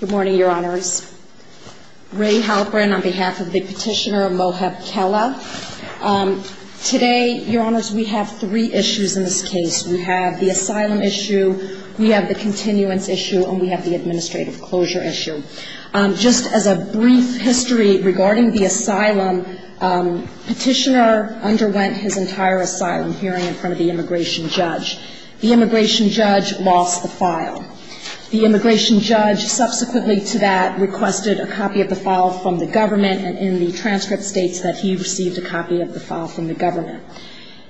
Good morning, your honors. Ray Halperin on behalf of the petitioner Mohab Khella. Today, your honors, we have three issues in this case. We have the asylum issue, we have the continuance issue, and we have the administrative closure issue. Just as a brief history regarding the asylum, petitioner underwent his entire asylum hearing in front of the immigration judge. The immigration judge lost the file. The immigration judge subsequently to that requested a copy of the file from the government and in the transcript states that he received a copy of the file from the government.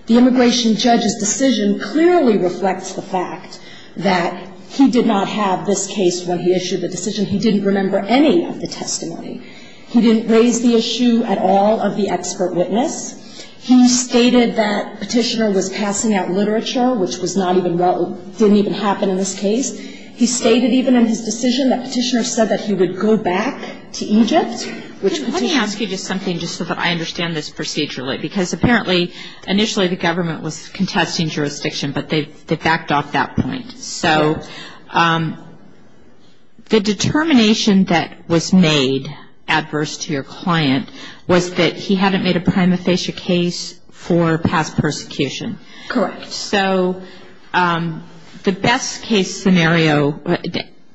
The immigration judge's decision clearly reflects the fact that he did not have this case when he issued the decision. He didn't remember any of the testimony. He didn't raise the issue at all of the expert witness. He stated that Petitioner was passing out literature, which was not even well – didn't even happen in this case. He stated even in his decision that Petitioner said that he would go back to Egypt, which Petitioner – initially the government was contesting jurisdiction, but they backed off that point. So the determination that was made adverse to your client was that he hadn't made a prima facie case for past persecution. Correct. So the best case scenario,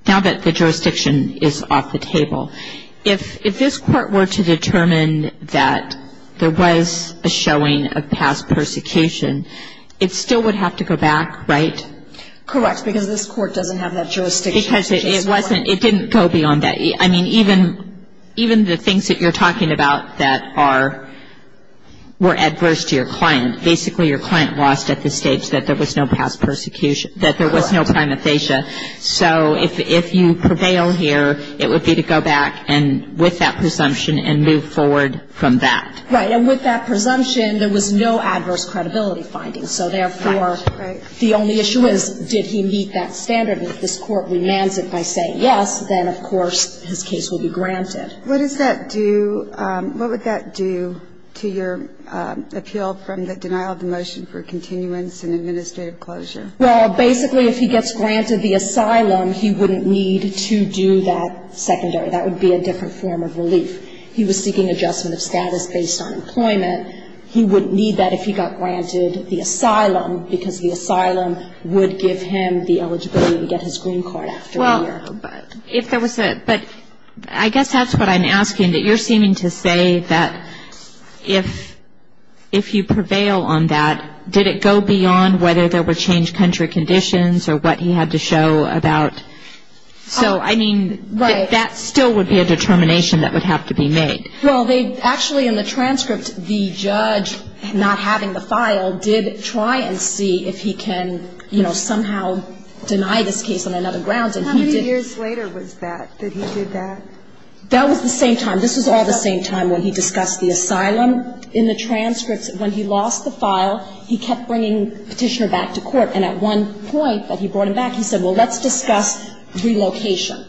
now that the jurisdiction is off the table, if this court were to determine that there was a showing of past persecution, it still would have to go back, right? Correct, because this court doesn't have that jurisdiction. Because it wasn't – it didn't go beyond that. I mean, even the things that you're talking about that are – were adverse to your client. Basically, your client lost at the stage that there was no past persecution – that there was no prima facie. So if you prevail here, it would be to go back and – with that presumption and move forward from that. Right. And with that presumption, there was no adverse credibility findings. So therefore, the only issue is, did he meet that standard? And if this court remands it by saying yes, then, of course, his case will be granted. What does that do – what would that do to your appeal from the denial of the motion for continuance and administrative closure? Well, basically, if he gets granted the asylum, he wouldn't need to do that secondary. That would be a different form of relief. He was seeking adjustment of status based on employment. He wouldn't need that if he got granted the asylum, because the asylum would give him the eligibility to get his green card after a year. Well, if there was a – but I guess that's what I'm asking, that you're seeming to say that if – if you prevail on that, did it go beyond whether there were changed country conditions or what he had to show about – so, I mean, that still would be a determination that would have to be made. Well, they – actually, in the transcript, the judge, not having the file, did try and see if he can, you know, somehow deny this case on another grounds, and he did. How many years later was that, that he did that? That was the same time. This was all the same time when he discussed the asylum. In the transcripts, when he lost the file, he kept bringing Petitioner back to court. And at one point that he brought him back, he said, well, let's discuss relocation.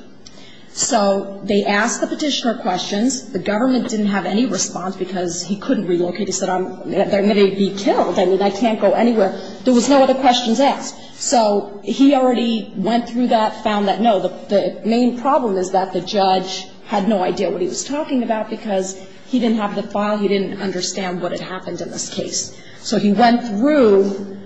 So they asked the Petitioner questions. The government didn't have any response because he couldn't relocate. He said, I'm – I'm going to be killed. I mean, I can't go anywhere. There was no other questions asked. So he already went through that, found that. No, the main problem is that the judge had no idea what he was talking about because he didn't have the file. He didn't understand what had happened in this case. So he went through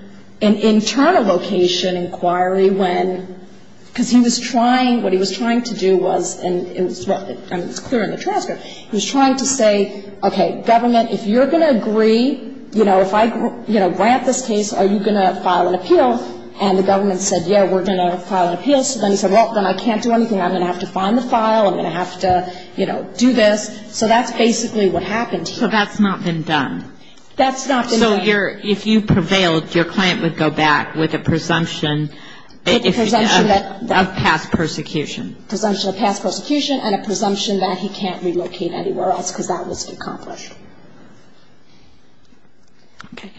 an internal location inquiry when – because he was trying – what he was trying to do was – and it's clear in the transcript. He was trying to say, okay, government, if you're going to agree, you know, if I, you know, grant this case, are you going to file an appeal? And the government said, yeah, we're going to file an appeal. So then he said, well, then I can't do anything. I'm going to have to find the file. I'm going to have to, you know, do this. So that's basically what happened here. So that's not been done. That's not been done. So you're – if you prevailed, your client would go back with a presumption of past persecution. Presumption of past persecution and a presumption that he can't relocate anywhere else because that was accomplished. Okay.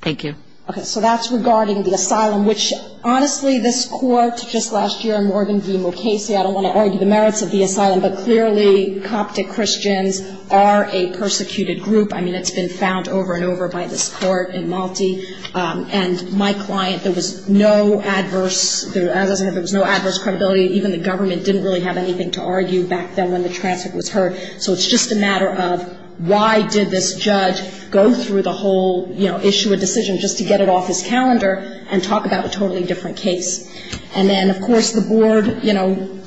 Thank you. Okay. So that's regarding the asylum, which, honestly, this Court just last year, Morgan v. Mukasey – I don't want to argue the merits of the asylum, but clearly Coptic Christians are a persecuted group. I mean, it's been found over and over by this Court in Malte. And my client, there was no adverse – as I said, there was no adverse credibility. Even the government didn't really have anything to argue back then when the transfer was heard. So it's just a matter of why did this judge go through the whole, you know, issue a decision just to get it off his calendar and talk about a totally different case. And then, of course, the Board, you know,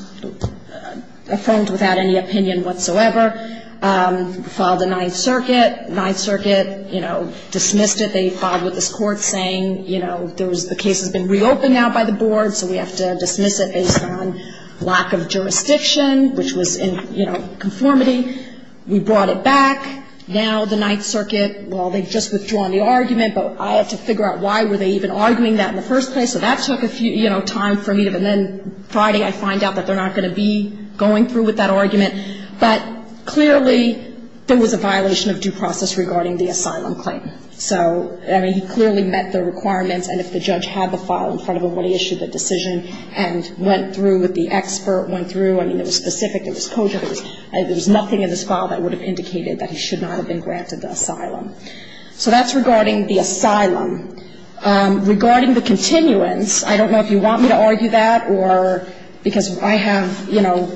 affirmed without any opinion whatsoever, filed the Ninth Circuit. Ninth Circuit, you know, dismissed it. They filed with this Court saying, you know, the case has been reopened now by the Board, so we have to dismiss it based on lack of jurisdiction, which was in conformity. We brought it back. Now the Ninth Circuit, well, they've just withdrawn the argument, but I have to figure out why were they even arguing that in the first place. So that took a few, you know, time for me to – and then Friday I find out that they're not going to be going through with that argument. But clearly there was a violation of due process regarding the asylum claim. So, I mean, he clearly met the requirements, and if the judge had the file in front of him when he issued the decision and went through with the expert, went through, I mean, it was specific, it was cogent, there was nothing in this file that would have indicated that he should not have been granted the asylum. So that's regarding the asylum. Regarding the continuance, I don't know if you want me to argue that, or because I have, you know,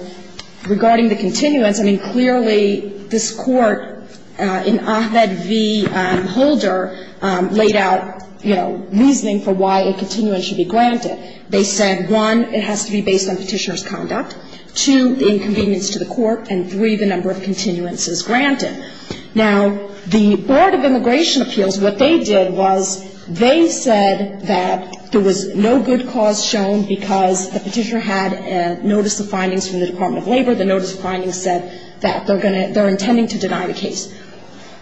regarding the continuance, I mean, clearly this Court in Ahmed v. Holder laid out, you know, reasoning for why a continuance should be granted. They said, one, it has to be based on Petitioner's conduct. Two, the inconvenience to the Court. And three, the number of continuances granted. Now, the Board of Immigration Appeals, what they did was they said that there was no good cause shown because the Petitioner had notice of findings from the Department of Labor, the notice of findings said that they're going to – they're intending to deny the case.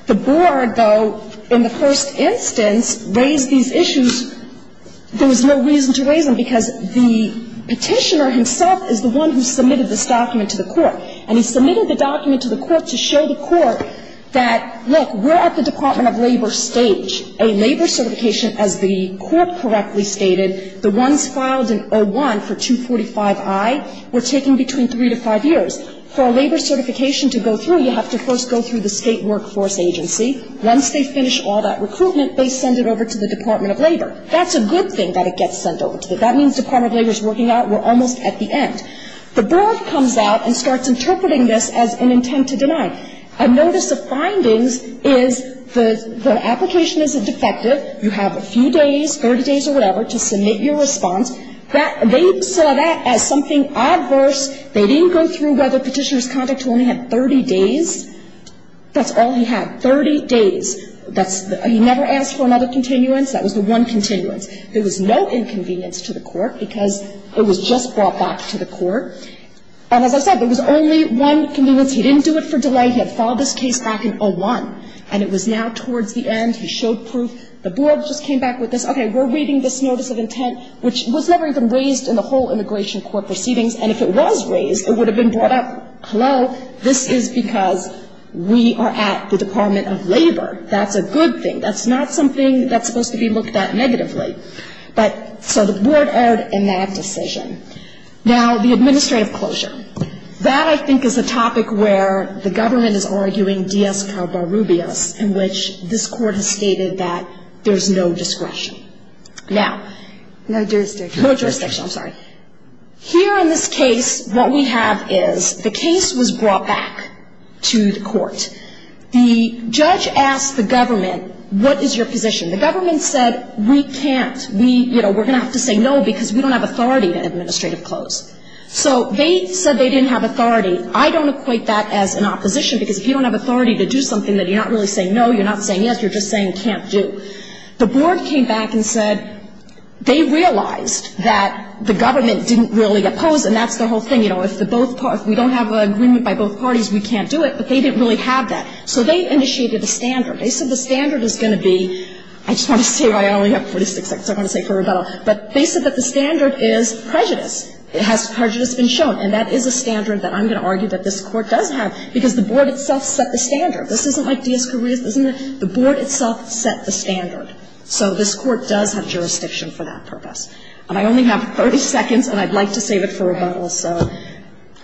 The Board, though, in the first instance raised these issues. There was no reason to raise them because the Petitioner himself is the one who submitted this document to the Court. And he submitted the document to the Court to show the Court that, look, we're at the Department of Labor stage. A labor certification, as the Court correctly stated, the ones filed in 01 for 245i were taking between three to five years. For a labor certification to go through, you have to first go through the State Workforce Agency. Once they finish all that recruitment, they send it over to the Department of Labor. That's a good thing that it gets sent over to them. That means Department of Labor is working out we're almost at the end. The Board comes out and starts interpreting this as an intent to deny. A notice of findings is the application is a defective. You have a few days, 30 days or whatever, to submit your response. They saw that as something adverse. They didn't go through whether Petitioner's conduct only had 30 days. That's all he had, 30 days. He never asked for another continuance. That was the one continuance. There was no inconvenience to the Court because it was just brought back to the Court. And as I said, there was only one convenience. He didn't do it for delay. He had filed this case back in 2001. And it was now towards the end. He showed proof. The Board just came back with this, okay, we're reading this notice of intent, which was never even raised in the whole Immigration Court proceedings. And if it was raised, it would have been brought up. Hello, this is because we are at the Department of Labor. That's a good thing. That's not something that's supposed to be looked at negatively. But so the Board erred in that decision. Now, the administrative closure. That, I think, is a topic where the government is arguing dies carbarubias, in which this Court has stated that there's no discretion. Now. No jurisdiction. No jurisdiction. I'm sorry. Here in this case, what we have is the case was brought back to the Court. The judge asked the government, what is your position? The government said, we can't. We're going to have to say no because we don't have authority to administrative close. So they said they didn't have authority. I don't equate that as an opposition because if you don't have authority to do something, then you're not really saying no. You're not saying yes. You're just saying can't do. The Board came back and said they realized that the government didn't really oppose, and that's the whole thing. You know, if we don't have an agreement by both parties, we can't do it. But they didn't really have that. So they initiated a standard. They said the standard is going to be, I just want to say, I only have 46 seconds. I'm going to say it for rebuttal. But they said that the standard is prejudice. Prejudice has been shown. And that is a standard that I'm going to argue that this Court does have because the Board itself set the standard. This isn't like D.S. Correa's, isn't it? The Board itself set the standard. So this Court does have jurisdiction for that purpose. And I only have 30 seconds, and I'd like to save it for rebuttal, so.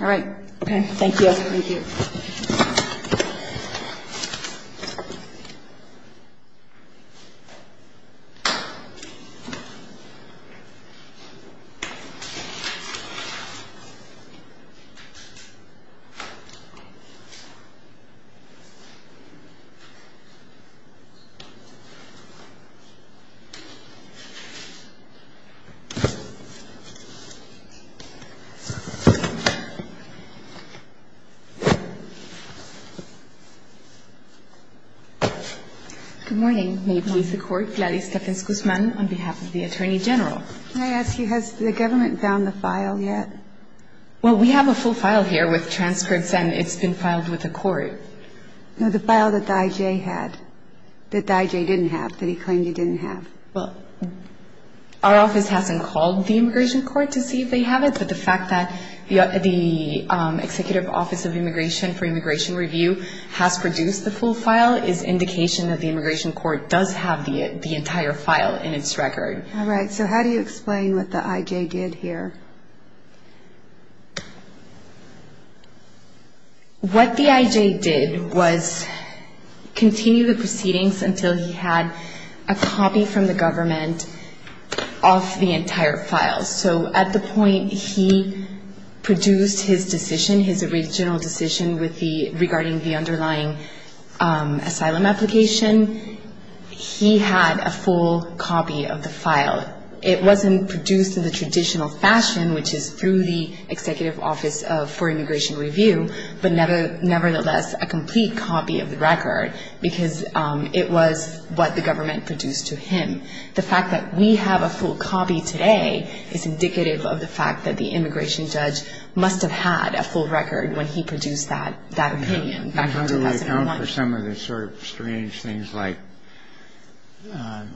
All right. Okay. Thank you. Thank you. Thank you. Good morning. May it please the Court. Gladys Stephens-Guzman on behalf of the Attorney General. Can I ask you, has the government found the file yet? Well, we have a full file here with transcripts, and it's been filed with the Court. No, the file that the I.J. had, that the I.J. didn't have, that he claimed he didn't have. Well, our office hasn't called the Immigration Court to see if they have it. But the fact that the Executive Office of Immigration for Immigration Review has produced the full file is indication that the Immigration Court does have the entire file in its record. All right. So how do you explain what the I.J. did here? What the I.J. did was continue the proceedings until he had a copy from the government of the entire file. So at the point he produced his decision, his original decision regarding the underlying asylum application, he had a full copy of the file. It wasn't produced in the traditional fashion, which is through the Executive Office for Immigration Review, but nevertheless a complete copy of the record because it was what the government produced to him. The fact that we have a full copy today is indicative of the fact that the immigration judge must have had a full record when he produced that opinion back in 2001. And how do we account for some of the sort of strange things like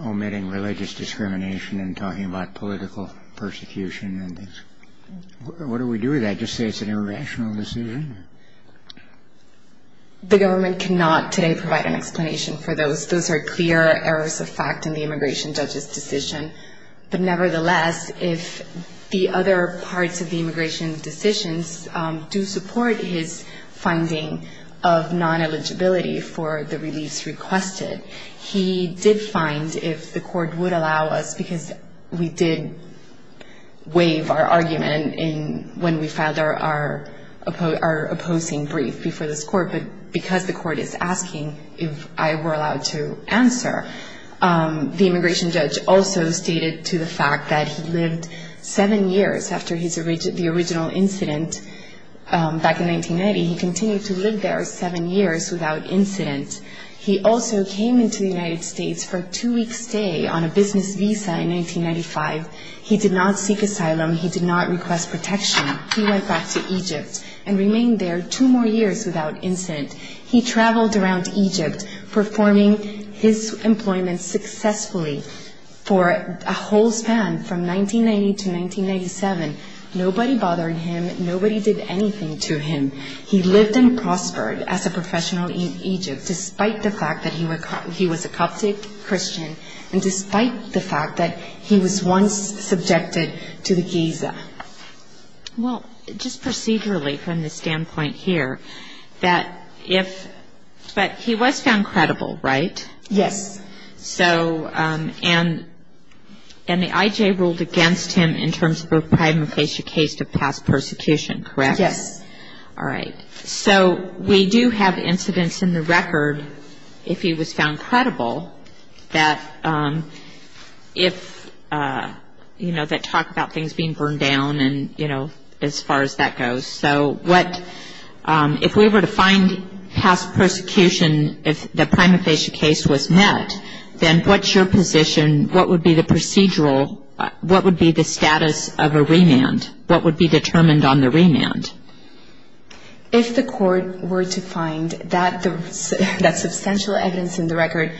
omitting religious discrimination and talking about political persecution and things? What do we do with that? Just say it's an irrational decision? The government cannot today provide an explanation for those. Those are clear errors of fact in the immigration judge's decision. But nevertheless, if the other parts of the immigration decisions do support his finding of non-eligibility for the release requested, he did find if the court would allow us, because we did waive our argument when we filed our opposing brief before this court, but because the court is asking if I were allowed to answer, the immigration judge also stated to the fact that he lived seven years after the original incident back in 1990. He continued to live there seven years without incident. He also came into the United States for a two-week stay on a business visa in 1995. He did not seek asylum. He did not request protection. He went back to Egypt and remained there two more years without incident. He traveled around Egypt performing his employment successfully for a whole span from 1990 to 1997. Nobody bothered him. Nobody did anything to him. He lived and prospered as a professional in Egypt despite the fact that he was a Coptic Christian and despite the fact that he was once subjected to the Giza. Well, just procedurally from the standpoint here, that if he was found credible, right? Yes. So and the IJ ruled against him in terms of a prima facie case of past persecution, correct? Yes. All right. So we do have incidents in the record if he was found credible that if, you know, that talk about things being burned down and, you know, as far as that goes. So what if we were to find past persecution if the prima facie case was met, then what's your position? What would be the procedural? What would be the status of a remand? What would be determined on the remand? If the court were to find that substantial evidence in the record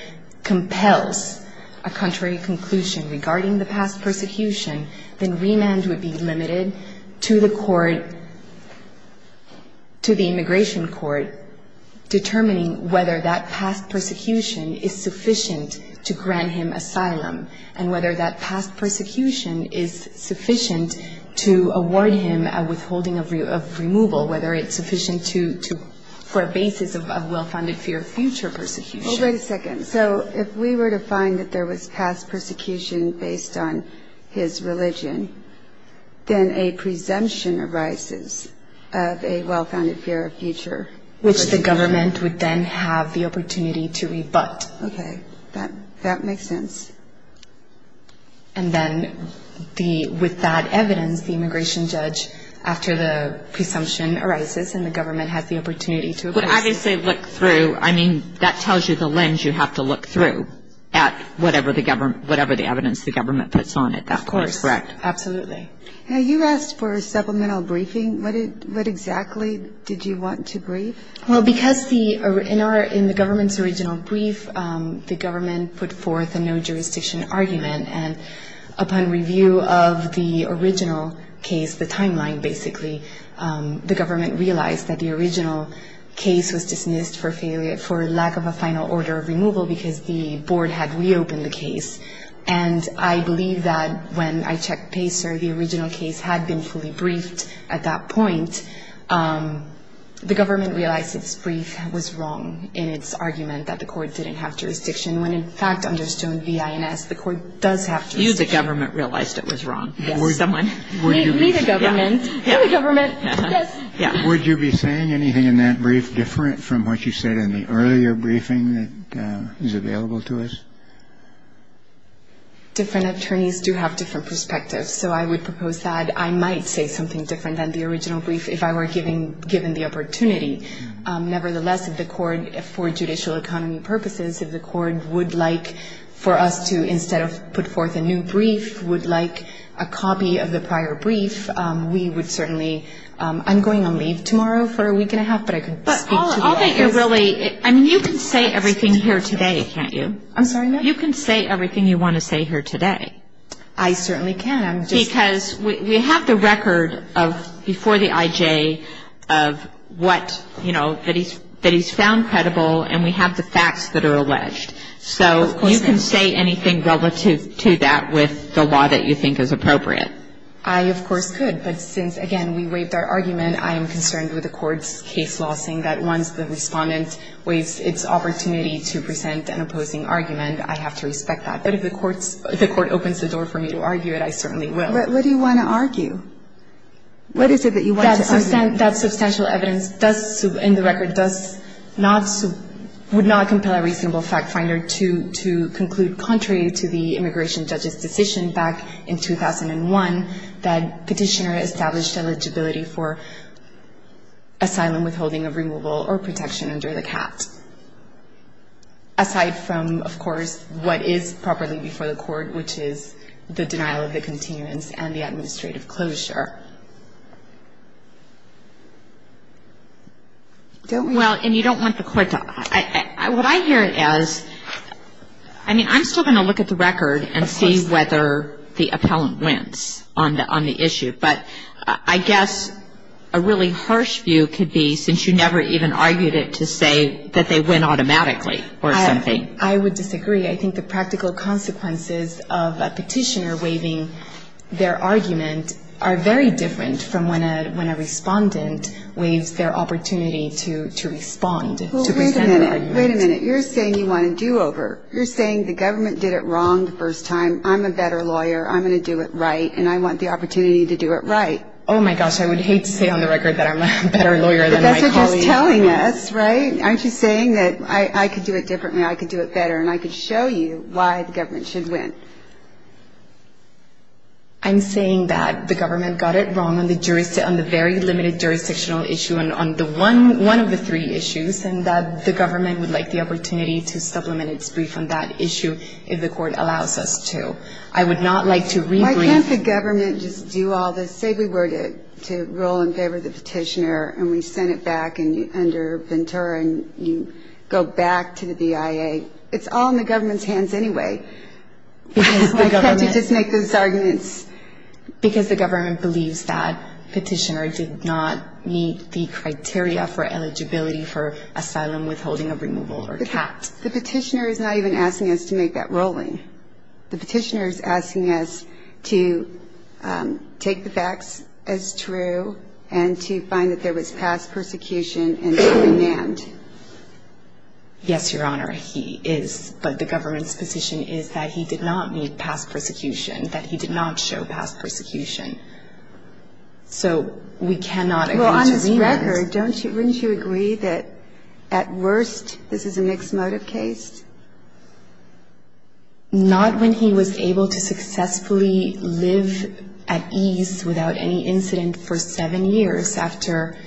compels a contrary conclusion regarding the past persecution, then remand would be limited to the court, to the immigration court, determining whether that past persecution is sufficient to grant him asylum and whether that past persecution is sufficient to award him a withholding of removal, whether it's sufficient for a basis of well-founded fear of future persecution. Well, wait a second. So if we were to find that there was past persecution based on his religion, then a presumption arises of a well-founded fear of future persecution. Which the government would then have the opportunity to rebut. Okay. That makes sense. And then with that evidence, the immigration judge, after the presumption arises and the government has the opportunity to rebut. But obviously look through. I mean, that tells you the lens you have to look through at whatever the evidence the government puts on it. Of course. That would be correct. Absolutely. Now, you asked for a supplemental briefing. What exactly did you want to brief? Well, because in the government's original brief, the government put forth a no-jurisdiction argument. And upon review of the original case, the timeline basically, the government realized that the original case was dismissed for lack of a final order of removal because the board had reopened the case. And I believe that when I checked PACER, the original case had been fully briefed at that point. The government realized its brief was wrong in its argument that the court didn't have jurisdiction. When, in fact, under Stone v. INS, the court does have jurisdiction. You, the government, realized it was wrong. Yes. Someone. Me, the government. Yes. Would you be saying anything in that brief different from what you said in the earlier briefing that is available to us? Different attorneys do have different perspectives. So I would propose that I might say something different than the original brief if I were given the opportunity. Nevertheless, if the court, for judicial economy purposes, if the court would like for us to instead of put forth a new brief, would like a copy of the prior brief, we would certainly... I'm going on leave tomorrow for a week and a half, but I could speak to you... But all that you're really... I mean, you can say everything here today, can't you? I'm sorry, ma'am? You can say everything you want to say here today. I certainly can. I'm just... Because we have the record of, before the IJ, of what, you know, that he's found credible, and we have the facts that are alleged. So... Of course. You can say anything relative to that with the law that you think is appropriate. I, of course, could. But since, again, we waived our argument, I am concerned with the court's case law, saying that once the respondent waives its opportunity to present an opposing argument, I have to respect that. But if the court's, if the court opens the door for me to argue it, I certainly will. But what do you want to argue? What is it that you want to argue? That substantial evidence does, in the record, does not, would not compel a reasonable factfinder to conclude, contrary to the immigration judge's decision back in 2001, that Petitioner established eligibility for asylum withholding of removal or protection under the CAT. Aside from, of course, what is properly before the court, which is the denial of the continuance and the administrative closure. Don't we... Well, and you don't want the court to... What I hear is... I mean, I'm still going to look at the record. Of course. And see whether the appellant wins on the issue. But I guess a really harsh view could be, since you never even argued it, to say that they win automatically or something. I would disagree. I think the practical consequences of a petitioner waiving their argument are very different from when a respondent waives their opportunity to respond, to present an argument. Well, wait a minute. Wait a minute. You're saying you want a do-over. You're saying the government did it wrong the first time. I'm a better lawyer. I'm going to do it right. And I want the opportunity to do it right. Oh, my gosh. I would hate to say on the record that I'm a better lawyer than my colleague. But that's what you're telling us, right? Aren't you saying that I could do it differently, I could do it better, and I could show you why the government should win? I'm saying that the government got it wrong on the very limited jurisdictional issue and on one of the three issues, and that the government would like the opportunity to supplement its brief on that issue if the court allows us to. I would not like to re-brief. Why can't the government just do all this? Say we were to roll in favor of the petitioner and we sent it back under Ventura and you go back to the BIA. It's all in the government's hands anyway. Why can't you just make those arguments? Because the government believes that petitioner did not meet the criteria for eligibility for asylum withholding of removal or CAPT. The petitioner is not even asking us to make that rolling. The petitioner is asking us to take the facts as true and to find that there was past persecution and to remand. Yes, Your Honor, he is. But the government's position is that he did not meet past persecution, that he did not show past persecution. So we cannot agree to remand. On the record, wouldn't you agree that at worst this is a mixed motive case? Not when he was able to successfully live at ease without any incident for seven years after,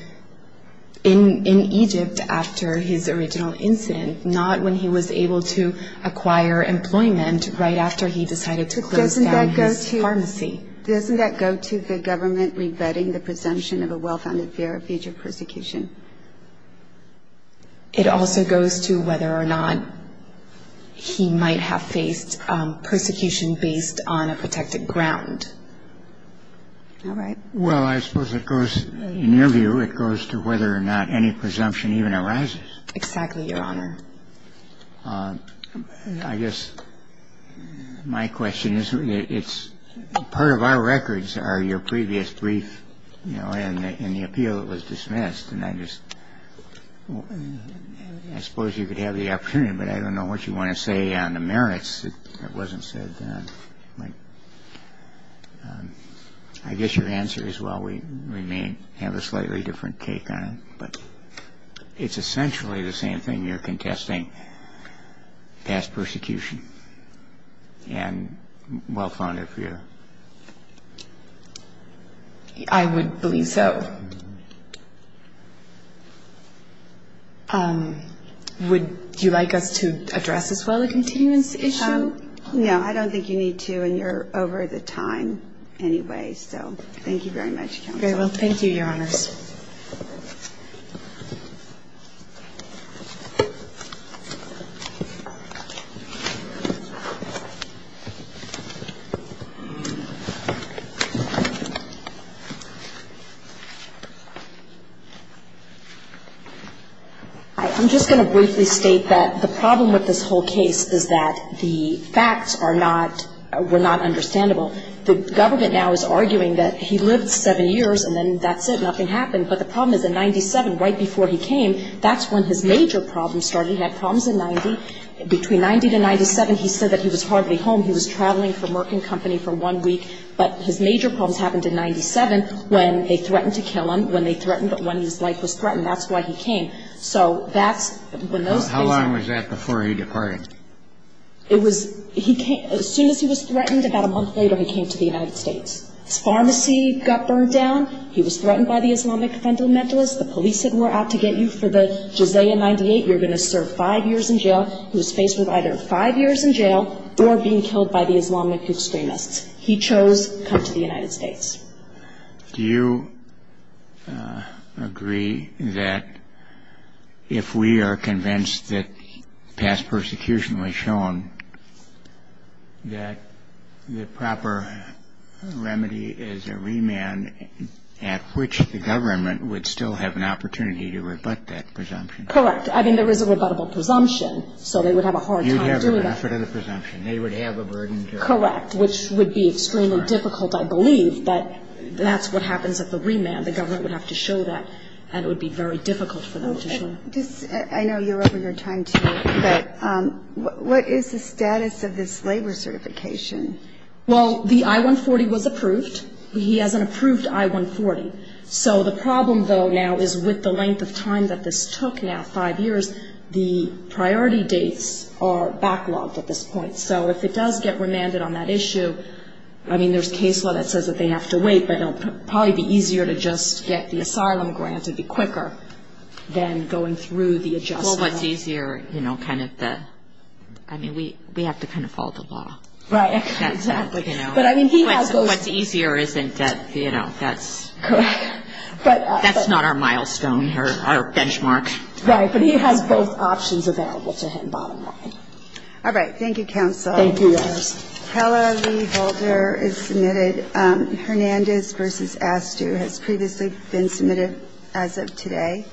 in Egypt after his original incident. Not when he was able to acquire employment right after he decided to close down his pharmacy. Doesn't that go to the government rebutting the presumption of a well-founded fear of future persecution? It also goes to whether or not he might have faced persecution based on a protected ground. All right. Well, I suppose it goes, in your view, it goes to whether or not any presumption even arises. Exactly, Your Honor. I guess my question is, it's part of our records are your previous brief, you know, and the appeal that was dismissed. And I just I suppose you could have the opportunity. But I don't know what you want to say on the merits. It wasn't said. I guess your answer is, well, we remain have a slightly different take on it. It's essentially the same thing. You're contesting past persecution and well-founded fear. I would believe so. Would you like us to address as well a continuance issue? No, I don't think you need to. And you're over the time anyway. So thank you very much. Okay, well, thank you, Your Honors. I'm just going to briefly state that the problem with this whole case is that the facts are not, were not understandable. The government now is arguing that he lived seven years and then that's it, nothing happened. But the problem is in 97, right before he came, that's when his major problems started. He had problems in 90. Between 90 to 97, he said that he was hardly home. He was traveling from work and company for one week. But his major problems happened in 97 when they threatened to kill him, when they threatened when his life was threatened. That's why he came. So that's when those things happened. How long was that before he departed? It was, he came, as soon as he was threatened, about a month later he came to the United States. His pharmacy got burned down. He was threatened by the Islamic fundamentalists. The police said we're out to get you for the Jizaya 98. You're going to serve five years in jail. He was faced with either five years in jail or being killed by the Islamic extremists. He chose to come to the United States. Do you agree that if we are convinced that past persecution was shown, that the proper remedy is a remand at which the government would still have an opportunity to rebut that presumption? Correct. I mean, there is a rebuttable presumption. So they would have a hard time doing that. You'd have the benefit of the presumption. They would have a burden to... Correct. Which would be extremely difficult, I believe, but that's what happens at the remand. The government would have to show that, and it would be very difficult for them to show. I know you're over your time, too, but what is the status of this labor certification? Well, the I-140 was approved. He has an approved I-140. So the problem, though, now is with the length of time that this took, now five years, the priority dates are backlogged at this point. So if it does get remanded on that issue, I mean, there's case law that says that they have to wait, but it will probably be easier to just get the asylum grant. It would be quicker than going through the adjustment. Well, what's easier, you know, kind of the, I mean, we have to kind of follow the law. Right. Exactly. But, I mean, he has those... What's easier isn't, you know, that's... Correct. That's not our milestone or our benchmark. Right, but he has both options available to him, bottom line. All right. Thank you, Counsel. Thank you, Your Honors. Keller v. Holder is submitted. Hernandez v. Astew has previously been submitted as of today.